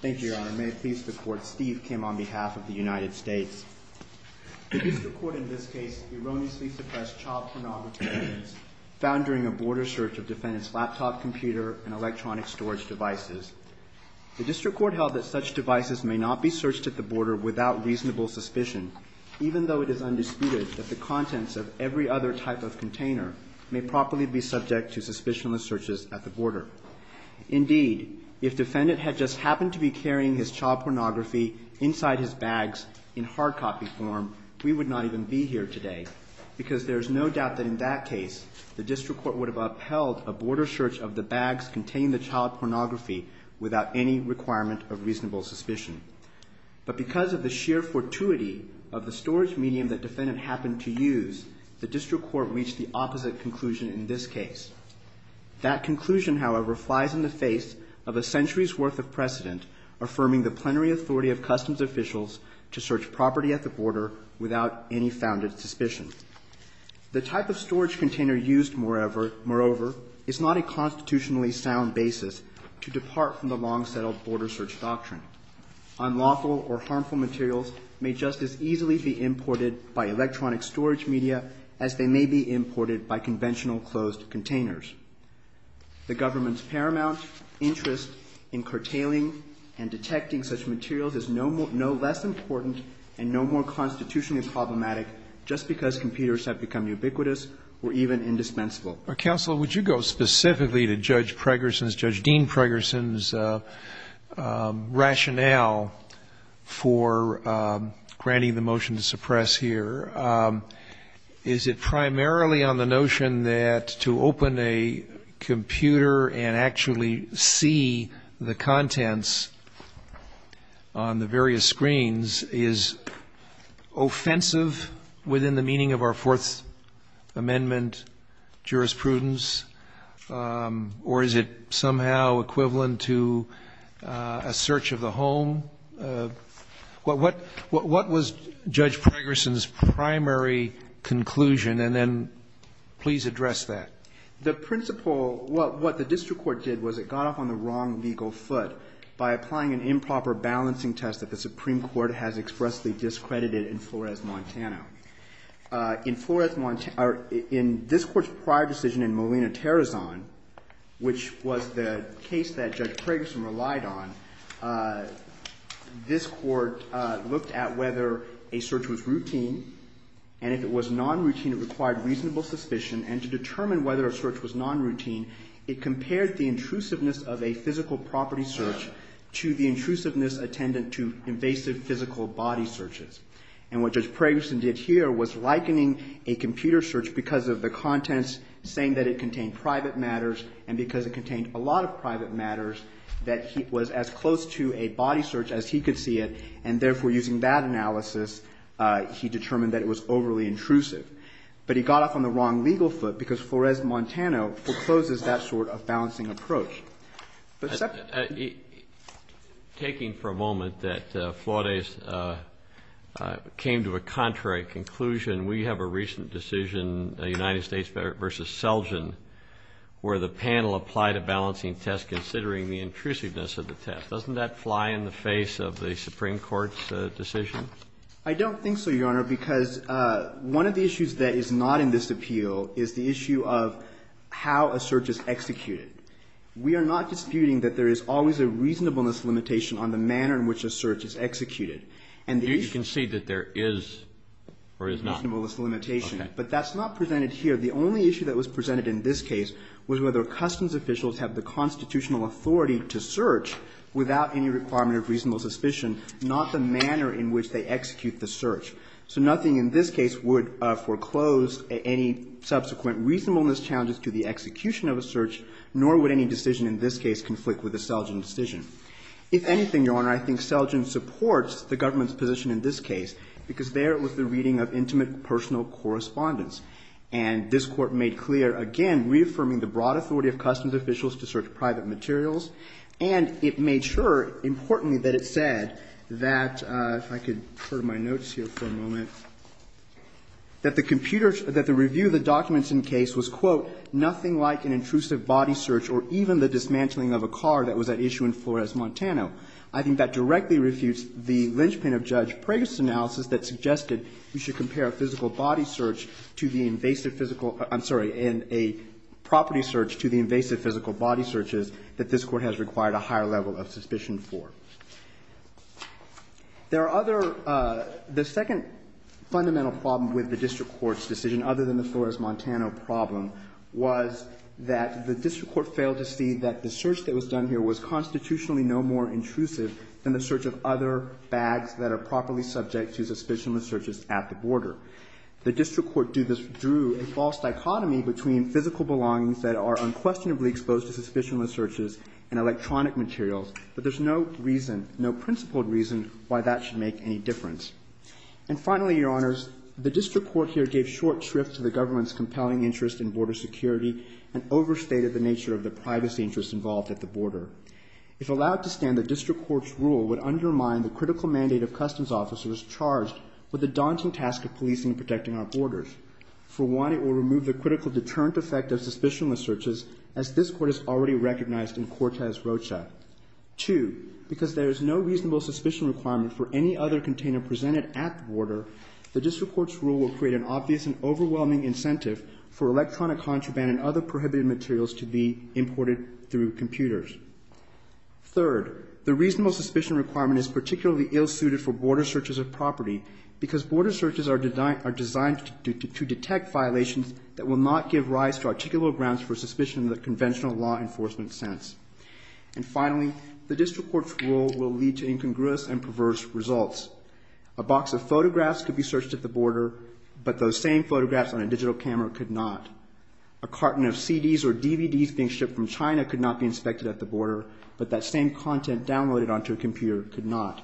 Thank you, Your Honor. May it please the Court, Steve Kim on behalf of the United States. The District Court in this case erroneously suppressed child pornography evidence found during a border search of defendant's laptop computer and electronic storage devices. The District Court held that such devices may not be searched at the border without reasonable suspicion, even though it is undisputed that the contents of every other type of container may properly be subject to suspicionless searches at the border. Indeed, if defendant had just happened to be carrying his child pornography inside his bags in hard copy form, we would not even be here today, because there is no doubt that in that case, the District Court would have upheld a border search of the bags containing the child pornography without any requirement of reasonable suspicion. But because of the sheer fortuity of the storage medium that defendant happened to use, the District Court reached the opposite conclusion in this case. That conclusion, however, flies in the face of a century's worth of precedent affirming the plenary authority of customs officials to search property at the border without any founded suspicion. The type of storage container used, moreover, is not a constitutionally sound basis to depart from the long-settled border search doctrine. Unlawful or harmful materials may just as easily be imported by electronic storage media as they may be imported by conventional closed containers. The government's paramount interest in curtailing and detecting such materials is no less important and no more constitutionally problematic just because computers have become ubiquitous or even indispensable. Counsel, would you go specifically to Judge Pregerson's, Judge Dean Pregerson's rationale for granting the motion to suppress here? Is it primarily on the notion that to open a computer and actually see the contents on the various screens is offensive within the meaning of our Fourth Amendment jurisprudence, or is it somehow equivalent to a search of the home? What was Judge Pregerson's primary conclusion? And then please address that. The principle, what the District Court did was it got off on the wrong legal foot by applying an improper balancing test that the Supreme Court has expressly discredited in Flores, Montana. In Flores, Montana, or in this Court's prior decision in Molina, Tarazan, which was the case that Judge Pregerson relied on, this Court looked at whether a search was routine, and if it was non-routine, it required reasonable suspicion. And to determine whether a search was non-routine, it compared the intrusiveness of a physical property search to the intrusiveness attendant to invasive physical body searches. And what Judge Pregerson did here was likening a computer search because of the contents saying that it contained private matters, and because it contained a lot of private matters, that it was as close to a body search as he could see it, and therefore using that analysis he determined that it was overly intrusive. But he got off on the wrong legal foot because Flores, Montana forecloses that sort of balancing approach. Taking for a moment that Flores came to a contrary conclusion, we have a recent decision, United States v. Selgin, where the panel applied a balancing test considering the intrusiveness of the test. Doesn't that fly in the face of the Supreme Court's decision? I don't think so, Your Honor, because one of the issues that is not in this appeal is the issue of how a search is executed. We are not disputing that there is always a reasonableness limitation on the manner in which a search is executed. And the issue- You can see that there is or is not. A reasonableness limitation. Okay. But that's not presented here. The only issue that was presented in this case was whether customs officials have the constitutional authority to search without any requirement of reasonable suspicion, not the manner in which they execute the search. So nothing in this case would foreclose any subsequent reasonableness challenges to the execution of a search, nor would any decision in this case conflict with the Selgin decision. If anything, Your Honor, I think Selgin supports the government's position in this case because there was the reading of intimate personal correspondence. And this Court made clear, again, reaffirming the broad authority of customs officials to search private materials. And it made sure, importantly, that it said that, if I could turn my notes here for a moment, that the computer that the review of the documents in the case was, quote, nothing like an intrusive body search or even the dismantling of a car that was at issue in Flores, Montana. I think that directly refutes the linchpin of Judge Preggis' analysis that suggested we should compare a physical body search to the invasive physical – I'm sorry, a property search to the invasive physical body searches that this Court has required a higher level of suspicion for. There are other – the second fundamental problem with the district court's decision, other than the Flores, Montana problem, was that the district court failed to see that the search that was done here was constitutionally no more intrusive than the search of other bags that are properly subject to suspicionless searches at the border. The district court drew a false dichotomy between physical belongings that are unquestionably exposed to suspicionless searches and electronic materials, but there's no reason, no principled reason, why that should make any difference. And finally, Your Honors, the district court here gave short shrift to the government's compelling interest in border security and overstated the nature of the privacy interests involved at the border. If allowed to stand, the district court's rule would undermine the critical mandate of customs officers charged with the daunting task of policing and protecting our borders. For one, it will remove the critical deterrent effect of suspicionless searches, as this Court has already recognized in Cortez-Rocha. Two, because there is no reasonable suspicion requirement for any other container presented at the border, the district court's rule will create an obvious and overwhelming incentive for electronic contraband and other prohibited materials to be imported through computers. Third, the reasonable suspicion requirement is particularly ill-suited for border searches of property because border searches are designed to detect violations that will not give rise to articulable grounds for suspicion in the conventional law enforcement sense. And finally, the district court's rule will lead to incongruous and perverse results. A box of photographs could be searched at the border, but those same photographs on a digital camera could not. A carton of CDs or DVDs being shipped from China could not be inspected at the border, but that same content downloaded onto a computer could not.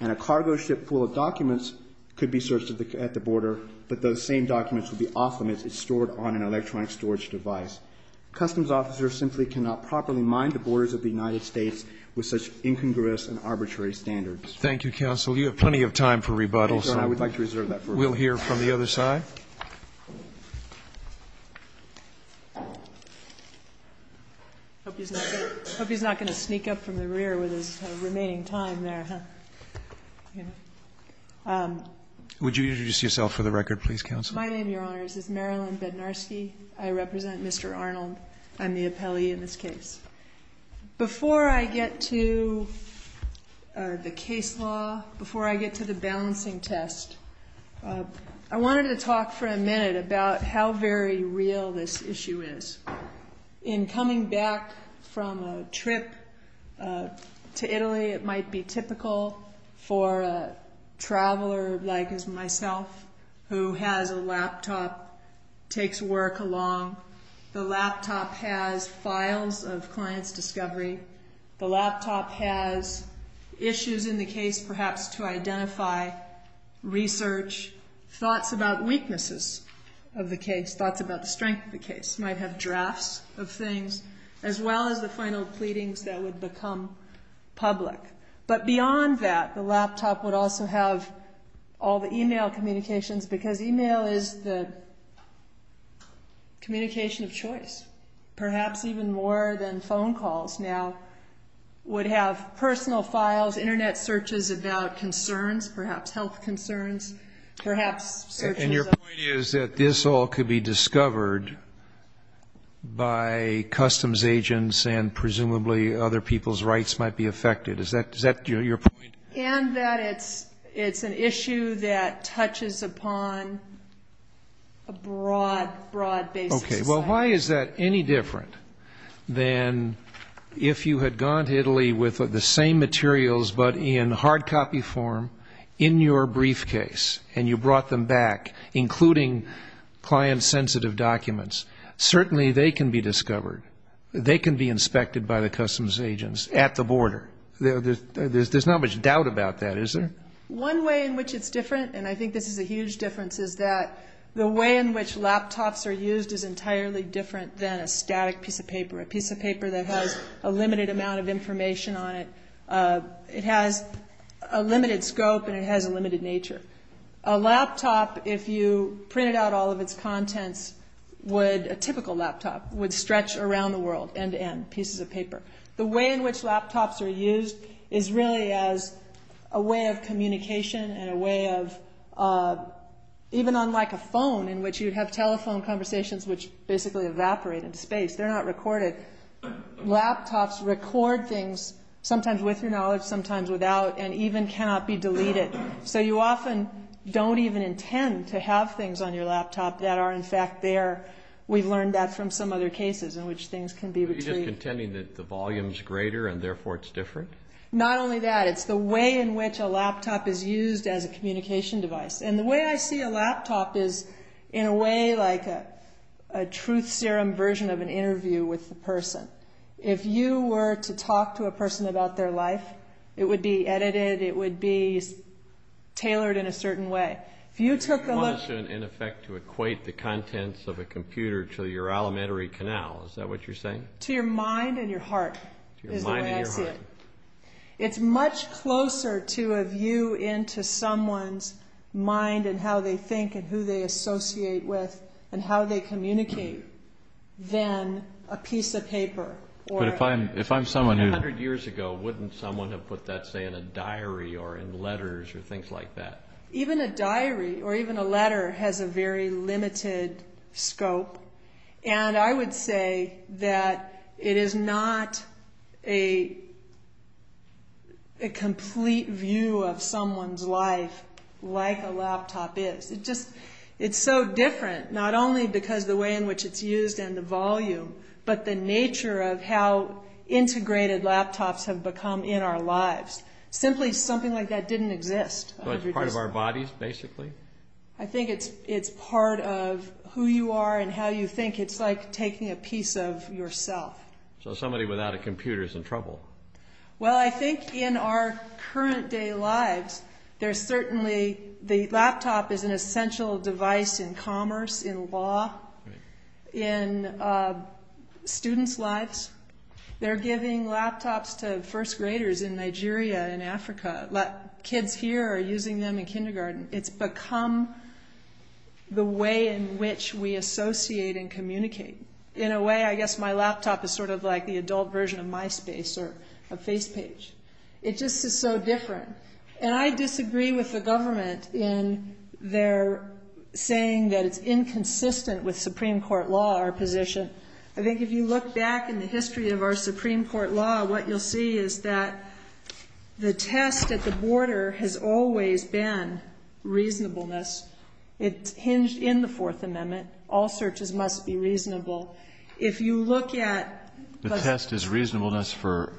And a cargo ship full of documents could be searched at the border, but those same documents would be off limits if stored on an electronic storage device. Customs officers simply cannot properly mind the borders of the United States with such incongruous and arbitrary standards. Thank you, counsel. You have plenty of time for rebuttal, so we'll hear from the other side. I hope he's not going to sneak up from the rear with his remaining time there. Would you introduce yourself for the record, please, counsel? My name, Your Honors, is Marilyn Bednarski. I represent Mr. Arnold. I'm the appellee in this case. Before I get to the case law, before I get to the balancing test, I wanted to talk for a minute about how very real this issue is. In coming back from a trip to Italy, it might be typical for a traveler like myself who has a laptop, takes work along. The laptop has files of clients' discovery. The laptop has issues in the case perhaps to identify, research, thoughts about weaknesses of the case, thoughts about the strength of the case. It might have drafts of things, as well as the final pleadings that would become public. But beyond that, the laptop would also have all the e-mail communications, because e-mail is the communication of choice. Perhaps even more than phone calls now would have personal files, Internet searches about concerns, perhaps health concerns. And your point is that this all could be discovered by customs agents and presumably other people's rights might be affected. Is that your point? And that it's an issue that touches upon a broad, broad basis. Okay. Well, why is that any different than if you had gone to Italy with the same materials but in hard copy form in your briefcase and you brought them back, including client-sensitive documents? Certainly they can be discovered. They can be inspected by the customs agents at the border. There's not much doubt about that, is there? One way in which it's different, and I think this is a huge difference, is that the way in which laptops are used is entirely different than a static piece of paper, a piece of paper that has a limited amount of information on it. It has a limited scope and it has a limited nature. A laptop, if you printed out all of its contents, would, a typical laptop, would stretch around the world end-to-end, pieces of paper. The way in which laptops are used is really as a way of communication and a way of, even unlike a phone in which you'd have telephone conversations which basically evaporate into space, they're not recorded. Laptops record things, sometimes with your knowledge, sometimes without, and even cannot be deleted. So you often don't even intend to have things on your laptop that are in fact there. We've learned that from some other cases in which things can be retrieved. Are you just contending that the volume's greater and therefore it's different? Not only that, it's the way in which a laptop is used as a communication device. And the way I see a laptop is, in a way, like a truth serum version of an interview with a person. If you were to talk to a person about their life, it would be edited, it would be tailored in a certain way. If you took a look... You want us, in effect, to equate the contents of a computer to your alimentary canal. Is that what you're saying? To your mind and your heart, is the way I see it. To your mind and your heart. It's much closer to a view into someone's mind and how they think and who they associate with and how they communicate than a piece of paper. But if I'm someone who... A hundred years ago, wouldn't someone have put that, say, in a diary or in letters or things like that? Even a diary or even a letter has a very limited scope. And I would say that it is not a complete view of someone's life like a laptop is. It's so different, not only because of the way in which it's used and the volume, but the nature of how integrated laptops have become in our lives. Simply, something like that didn't exist. But it's part of our bodies, basically? I think it's part of who you are and how you think. It's like taking a piece of yourself. So somebody without a computer is in trouble. Well, I think in our current day lives, there's certainly... The laptop is an essential device in commerce, in law, in students' lives. They're giving laptops to first graders in Nigeria and Africa. Kids here are using them in kindergarten. It's become the way in which we associate and communicate. In a way, I guess my laptop is sort of like the adult version of MySpace or a FacePage. It just is so different. And I disagree with the government in their saying that it's inconsistent with Supreme Court law, our position. I think if you look back in the history of our Supreme Court law, what you'll see is that the test at the border has always been reasonableness. It's hinged in the Fourth Amendment. All searches must be reasonable. If you look at... The test is reasonableness for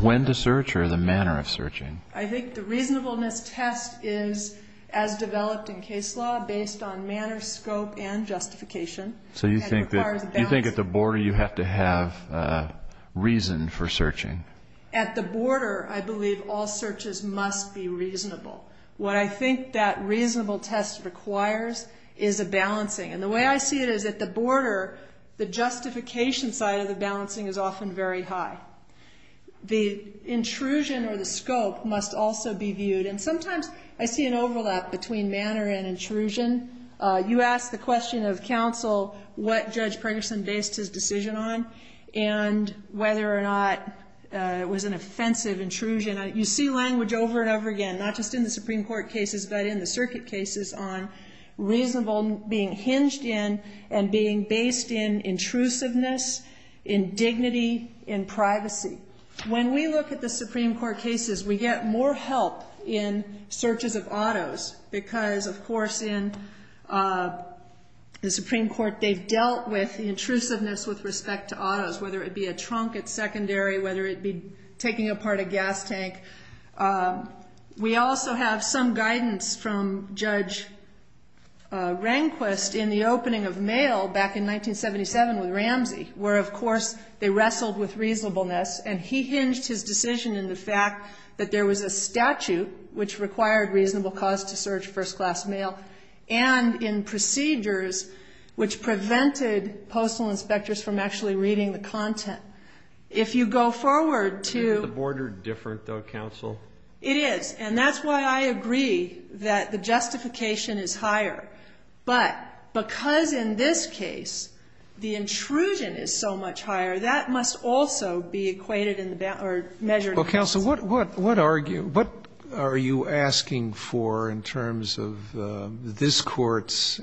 when to search or the manner of searching? I think the reasonableness test is, as developed in case law, based on manner, scope, and justification. So you think at the border, you have to have reason for searching? What I think that reasonable test requires is a balancing. And the way I see it is at the border, the justification side of the balancing is often very high. The intrusion or the scope must also be viewed. And sometimes I see an overlap between manner and intrusion. You asked the question of counsel what Judge Pregerson based his decision on and whether or not it was an offensive intrusion. You see language over and over again, not just in the Supreme Court cases, but in the circuit cases on reasonable being hinged in and being based in intrusiveness, in dignity, in privacy. When we look at the Supreme Court cases, we get more help in searches of autos because, of course, in the Supreme Court, they've dealt with the intrusiveness with respect to autos, whether it be a trunk at secondary, whether it be taking apart a gas tank. We also have some guidance from Judge Rehnquist in the opening of mail back in 1977 with Ramsey, where, of course, they wrestled with reasonableness, and he hinged his decision in the fact that there was a statute which required reasonable cause to search first-class mail and in procedures which prevented postal inspectors from actually reading the content. If you go forward to the board. The board are different, though, counsel. It is. And that's why I agree that the justification is higher. But because in this case the intrusion is so much higher, that must also be equated in the measure. Well, counsel, what are you asking for in terms of this Court's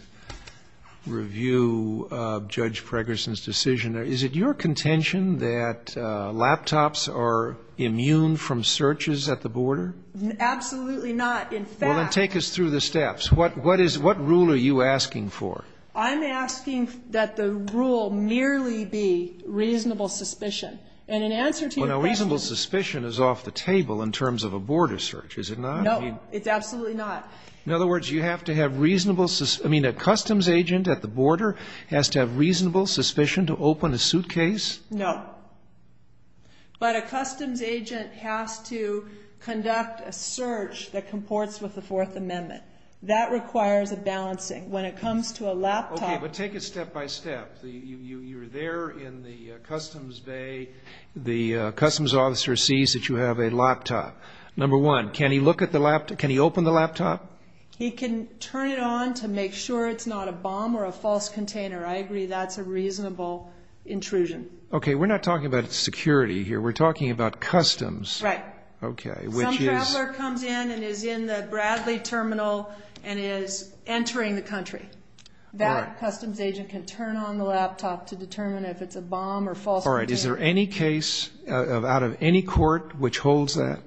review of Judge Pregerson's decision? Is it your contention that laptops are immune from searches at the border? Absolutely not. In fact. Well, then take us through the steps. What rule are you asking for? I'm asking that the rule merely be reasonable suspicion. And in answer to your question. You know, reasonable suspicion is off the table in terms of a border search, is it not? No. It's absolutely not. In other words, you have to have reasonable. I mean, a customs agent at the border has to have reasonable suspicion to open a suitcase? No. But a customs agent has to conduct a search that comports with the Fourth Amendment. That requires a balancing. When it comes to a laptop. Okay, but take it step by step. You're there in the customs bay. The customs officer sees that you have a laptop. Number one, can he look at the laptop? Can he open the laptop? He can turn it on to make sure it's not a bomb or a false container. I agree that's a reasonable intrusion. Okay, we're not talking about security here. We're talking about customs. Right. Some traveler comes in and is in the Bradley Terminal and is entering the country. That customs agent can turn on the laptop to determine if it's a bomb or false container. All right. Is there any case out of any court which holds that?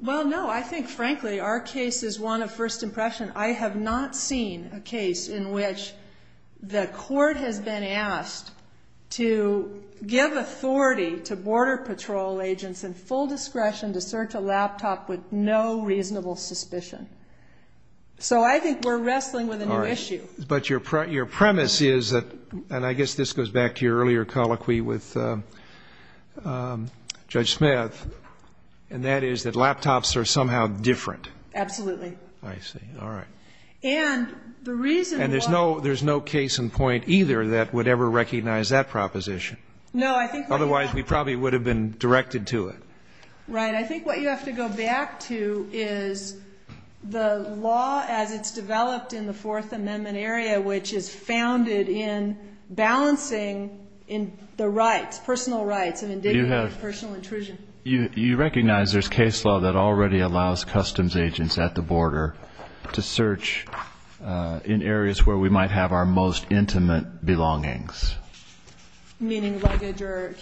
Well, no. I think, frankly, our case is one of first impression. I have not seen a case in which the court has been asked to give authority to border patrol agents in full discretion to search a laptop with no reasonable suspicion. So I think we're wrestling with a new issue. But your premise is that, and I guess this goes back to your earlier colloquy with Judge Smith, and that is that laptops are somehow different. Absolutely. I see. All right. And the reason why. And there's no case in point either that would ever recognize that proposition. No, I think. Otherwise, we probably would have been directed to it. Right. And I think what you have to go back to is the law as it's developed in the Fourth Amendment area, which is founded in balancing the rights, personal rights, and indignity of personal intrusion. You recognize there's case law that already allows customs agents at the border to search in areas where we might have our most intimate belongings. Briefcases.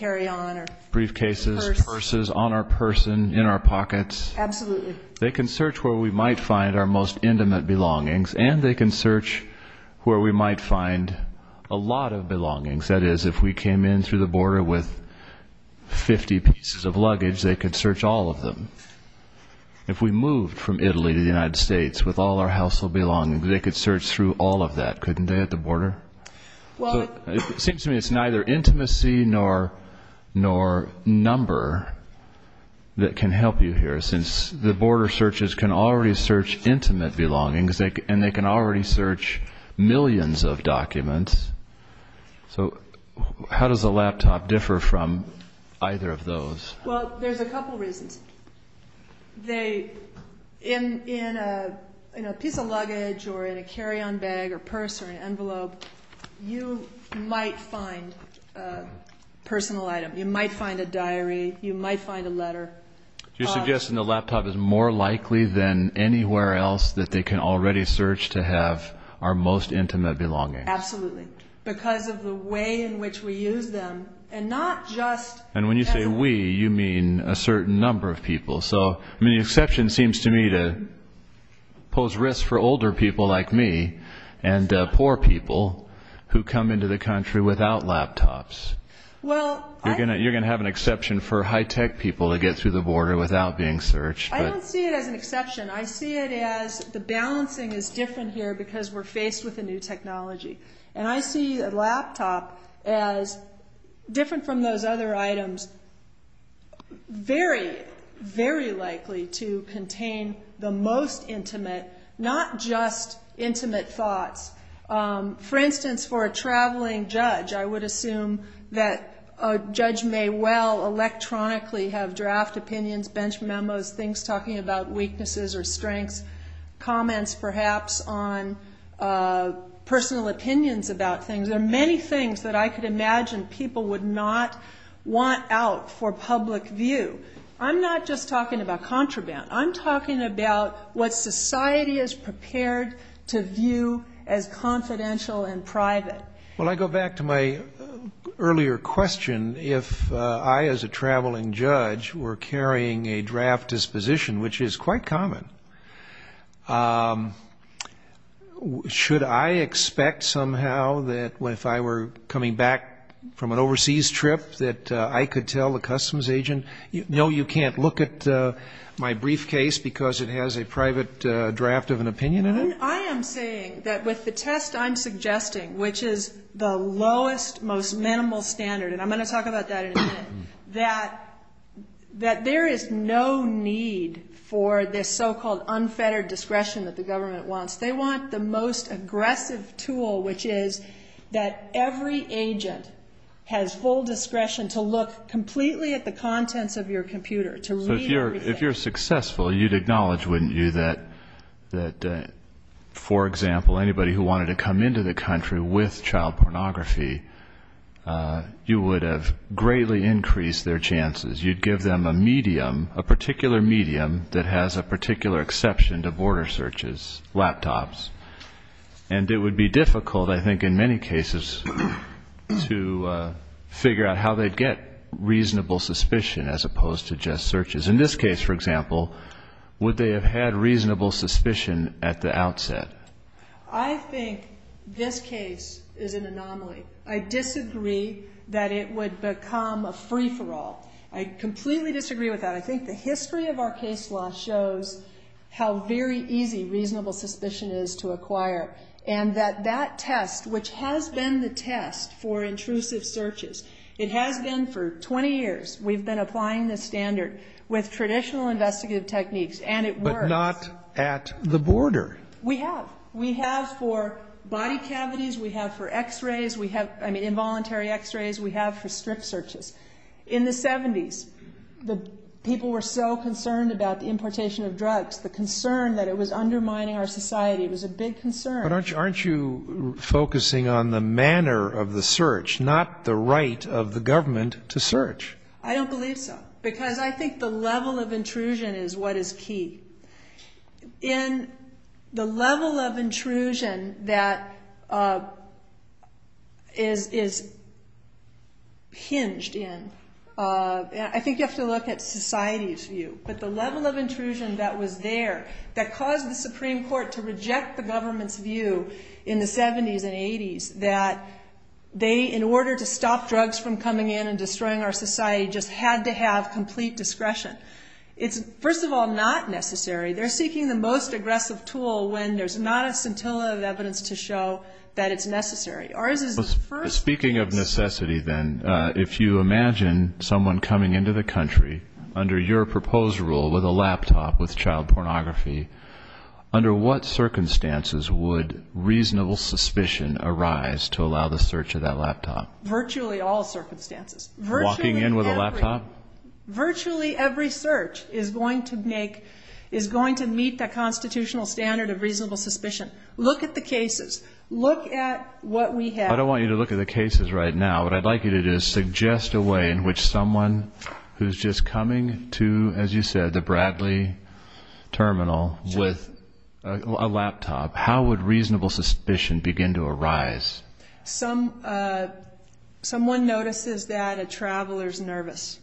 Purses. Purses on our person, in our pockets. Absolutely. They can search where we might find our most intimate belongings, and they can search where we might find a lot of belongings. That is, if we came in through the border with 50 pieces of luggage, they could search all of them. If we moved from Italy to the United States with all our household belongings, they could search through all of that, couldn't they, at the border? It seems to me it's neither intimacy nor number that can help you here, since the border searches can already search intimate belongings, and they can already search millions of documents. So how does a laptop differ from either of those? Well, there's a couple reasons. In a piece of luggage or in a carry-on bag or purse or an envelope, you might find a personal item. You might find a diary. You might find a letter. You're suggesting the laptop is more likely than anywhere else that they can already search to have our most intimate belongings. Absolutely. Because of the way in which we use them, and not just... And when you say we, you mean a certain number of people. So the exception seems to me to pose risks for older people like me and poor people who come into the country without laptops. You're going to have an exception for high-tech people to get through the border without being searched. I don't see it as an exception. I see it as the balancing is different here because we're faced with a new technology. And I see a laptop as, different from those other items, very, very likely to contain the most intimate, not just intimate thoughts. For instance, for a traveling judge, I would assume that a judge may well electronically have draft opinions, bench memos, things talking about weaknesses or strengths, comments perhaps on personal opinions about things. There are many things that I could imagine people would not want out for public view. I'm not just talking about contraband. I'm talking about what society is prepared to view as confidential and private. Well, I go back to my earlier question. If I, as a traveling judge, were carrying a draft disposition, which is quite common, should I expect somehow that if I were coming back from an overseas trip that I could tell the customs agent, no, you can't look at my briefcase because it has a private draft of an opinion in it? I am saying that with the test I'm suggesting, which is the lowest, most minimal standard, and I'm going to talk about that in a minute, that there is no need for this so-called unfettered discretion that the government wants. They want the most aggressive tool, which is that every agent has full discretion to look completely at the contents of your computer, to read everything. So if you're successful, you'd acknowledge, wouldn't you, that, for example, anybody who wanted to come into the country with child pornography, you would have greatly increased their chances. You'd give them a medium, a particular medium that has a particular exception to border searches, laptops. And it would be difficult, I think, in many cases to figure out how they'd get reasonable suspicion as opposed to just searches. In this case, for example, would they have had reasonable suspicion at the outset? I think this case is an anomaly. I disagree that it would become a free-for-all. I completely disagree with that. I think the history of our case law shows how very easy reasonable suspicion is to acquire, and that that test, which has been the test for intrusive searches, it has been for 20 years. We've been applying this standard with traditional investigative techniques, and it works. But not at the border. We have. We have for body cavities. We have for X-rays. We have, I mean, involuntary X-rays. We have for strip searches. In the 70s, people were so concerned about the importation of drugs, the concern that it was undermining our society was a big concern. But aren't you focusing on the manner of the search, not the right of the government to search? I don't believe so, because I think the level of intrusion is what is key. In the level of intrusion that is hinged in, I think you have to look at society's view, but the level of intrusion that was there that caused the Supreme Court to reject the government's view in the 70s and 80s that they, in order to stop drugs from coming in and destroying our society, just had to have complete discretion. It's, first of all, not necessary. They're seeking the most aggressive tool when there's not a scintilla of evidence to show that it's necessary. Speaking of necessity, then, if you imagine someone coming into the country under your proposed rule with a laptop with child pornography, under what circumstances would reasonable suspicion arise to allow the search of that laptop? Virtually all circumstances. Walking in with a laptop? Virtually every search is going to make, is going to meet that constitutional standard of reasonable suspicion. Look at the cases. Look at what we have. I don't want you to look at the cases right now. What I'd like you to do is suggest a way in which someone who's just coming to, as you said, the Bradley Terminal with a laptop, how would reasonable suspicion begin to arise? Someone notices that a traveler's nervous.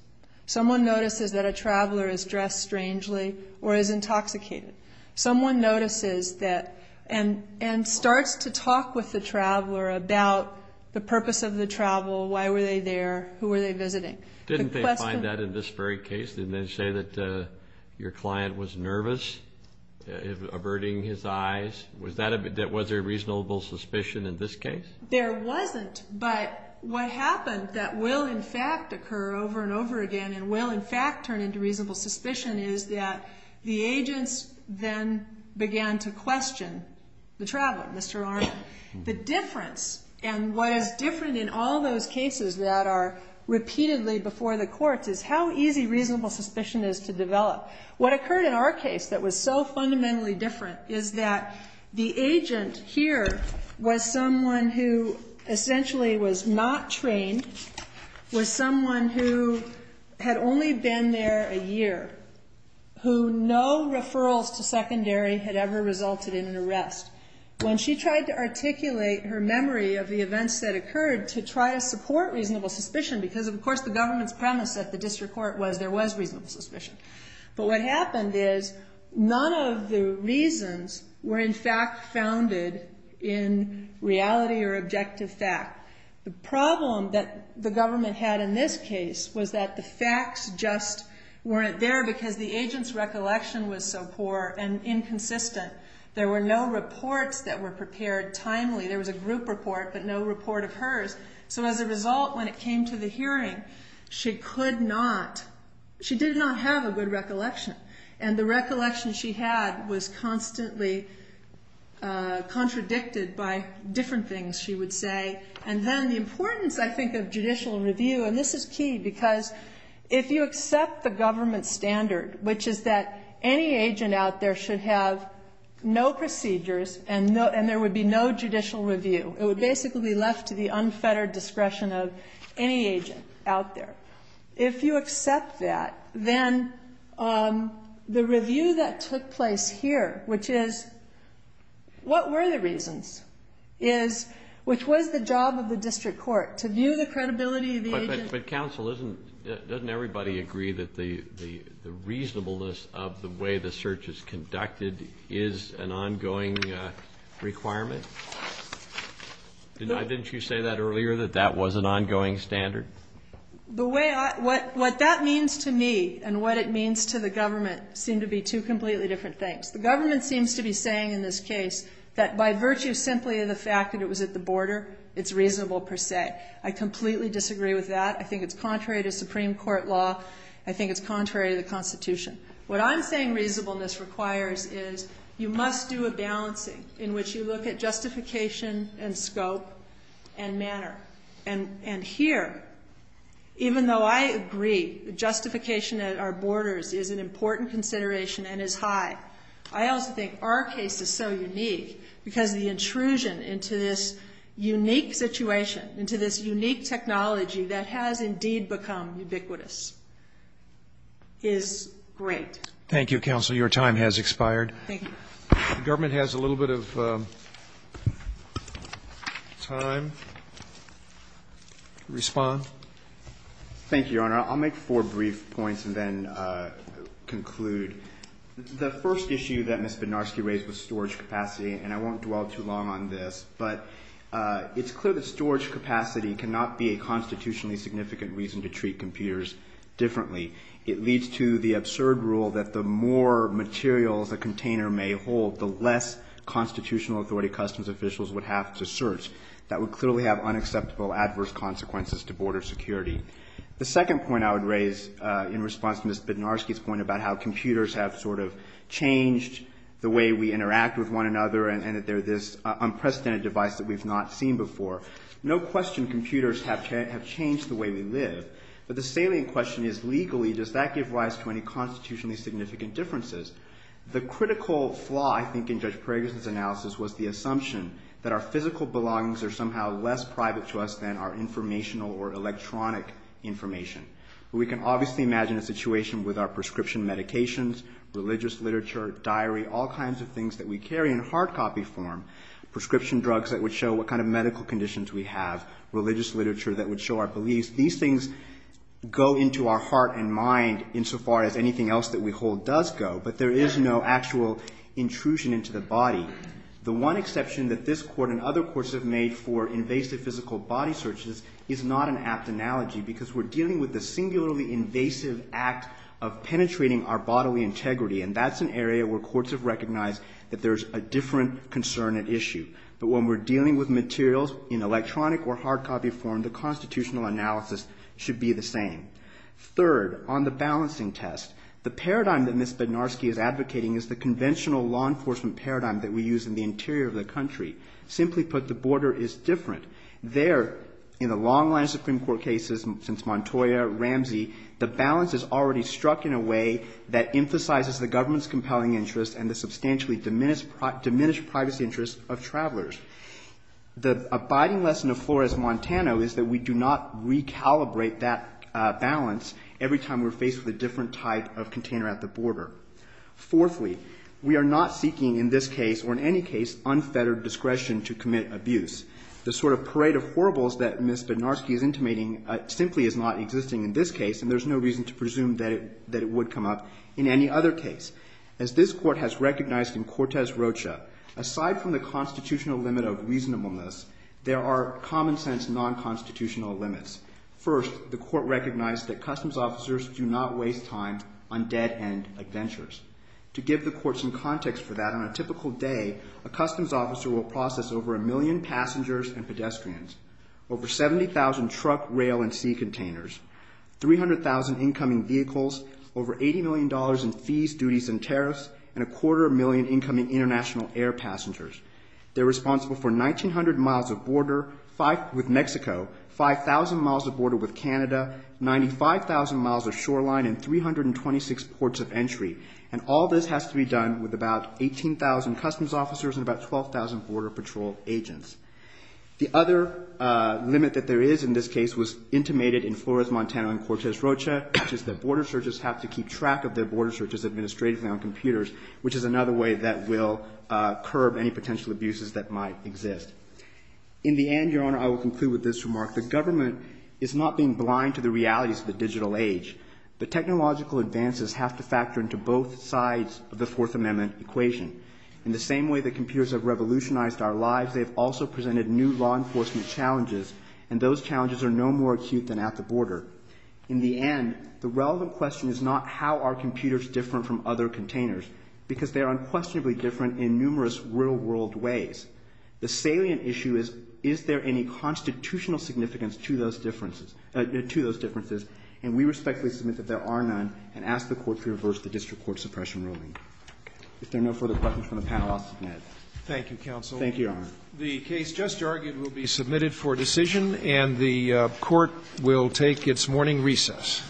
Someone notices that a traveler is dressed strangely or is intoxicated. Someone notices that and starts to talk with the traveler about the purpose of the travel. Why were they there? Who were they visiting? Didn't they find that in this very case? Didn't they say that your client was nervous, averting his eyes? Was there reasonable suspicion in this case? There wasn't, but what happened that will, in fact, occur over and over again and will, in fact, turn into reasonable suspicion is that the agents then began to question the traveler, Mr. Arnold. The difference, and what is different in all those cases that are repeatedly before the courts, is how easy reasonable suspicion is to develop. What occurred in our case that was so fundamentally different is that the agent here was someone who essentially was not trained, was someone who had only been there a year, who no referrals to secondary had ever resulted in an arrest. When she tried to articulate her memory of the events that occurred to try to support reasonable suspicion, because, of course, the government's premise at the district court was there was reasonable suspicion, but what happened is none of the reasons were, in fact, founded in reality or objective fact. The problem that the government had in this case was that the facts just weren't there because the agent's recollection was so poor and inconsistent. There were no reports that were prepared timely. There was a group report, but no report of hers. So as a result, when it came to the hearing, she did not have a good recollection, and the recollection she had was constantly contradicted by different things, she would say. And then the importance, I think, of judicial review, and this is key because if you accept the government standard, which is that any agent out there should have no procedures and there would be no judicial review, it would basically be left to the unfettered discretion of any agent out there. If you accept that, then the review that took place here, which is what were the reasons, which was the job of the district court, to view the credibility of the agent. But, counsel, doesn't everybody agree that the reasonableness of the way the search is conducted is an ongoing requirement? Didn't you say that earlier, that that was an ongoing standard? What that means to me and what it means to the government seem to be two completely different things. The government seems to be saying in this case that by virtue simply of the fact that it was at the border, it's reasonable per se. I completely disagree with that. I think it's contrary to Supreme Court law. I think it's contrary to the Constitution. What I'm saying reasonableness requires is you must do a balancing in which you look at justification and scope and manner. And here, even though I agree justification at our borders is an important consideration and is high, I also think our case is so unique because the intrusion into this unique situation, into this unique technology that has indeed become ubiquitous, is great. Thank you, counsel. Your time has expired. Thank you. If the government has a little bit of time to respond. Thank you, Your Honor. I'll make four brief points and then conclude. The first issue that Ms. Bednarski raised was storage capacity, and I won't dwell too long on this. But it's clear that storage capacity cannot be a constitutionally significant reason to treat computers differently. It leads to the absurd rule that the more materials a container may hold, the less constitutional authority customs officials would have to search. That would clearly have unacceptable adverse consequences to border security. The second point I would raise in response to Ms. Bednarski's point about how computers have sort of changed the way we interact with one another and that they're this unprecedented device that we've not seen before. No question computers have changed the way we live. But the salient question is, legally, does that give rise to any constitutionally significant differences? The critical flaw, I think, in Judge Paragus's analysis was the assumption that our physical belongings are somehow less private to us than our informational or electronic information. We can obviously imagine a situation with our prescription medications, religious literature, diary, all kinds of things that we carry in hard copy form, prescription drugs that would show what kind of medical conditions we have, religious literature that would show our beliefs. These things go into our heart and mind insofar as anything else that we hold does go. But there is no actual intrusion into the body. The one exception that this Court and other courts have made for invasive physical body searches is not an apt analogy because we're dealing with the singularly invasive act of penetrating our bodily integrity. And that's an area where courts have recognized that there's a different concern at issue. But when we're dealing with materials in electronic or hard copy form, the constitutional analysis should be the same. Third, on the balancing test, the paradigm that Ms. Bednarski is advocating is the conventional law enforcement paradigm that we use in the interior of the country. Simply put, the border is different. There, in the long line of Supreme Court cases since Montoya, Ramsey, the balance is already struck in a way that emphasizes the government's compelling interests and the substantially diminished privacy interests of travelers. The abiding lesson of Flores, Montana is that we do not recalibrate that balance every time we're faced with a different type of container at the border. Fourthly, we are not seeking in this case, or in any case, unfettered discretion to commit abuse. The sort of parade of horribles that Ms. Bednarski is intimating simply is not existing in this case, and there's no reason to presume that it would come up in any other case. As this court has recognized in Cortez-Rocha, aside from the constitutional limit of reasonableness, there are common-sense, non-constitutional limits. First, the court recognized that customs officers do not waste time on dead-end adventures. To give the court some context for that, on a typical day, a customs officer will process over a million passengers and pedestrians, over 70,000 truck, rail, and sea containers, 300,000 incoming vehicles, over $80 million in fees, duties, and tariffs, and a quarter million incoming international air passengers. They're responsible for 1,900 miles of border with Mexico, 5,000 miles of border with Canada, 95,000 miles of shoreline, and 326 ports of entry. And all this has to be done with about 18,000 customs officers and about 12,000 border patrol agents. The other limit that there is in this case was intimated in Flores, Montana, and Cortez-Rocha, which is that border searches have to keep track of their border searches administratively on computers, which is another way that will curb any potential abuses that might exist. In the end, Your Honor, I will conclude with this remark. The government is not being blind to the realities of the digital age. The technological advances have to factor into both sides of the Fourth Amendment equation. In the same way that computers have revolutionized our lives, they have also presented new law enforcement challenges, and those challenges are no more acute than at the border. In the end, the relevant question is not how are computers different from other containers, because they are unquestionably different in numerous real-world ways. The salient issue is, is there any constitutional significance to those differences? And we respectfully submit that there are none and ask the Court to reverse the district court suppression ruling. If there are no further questions from the panel, I'll submit. Thank you, counsel. Thank you, Your Honor. The case just argued will be submitted for decision, and the Court will take its morning recess. Thank you.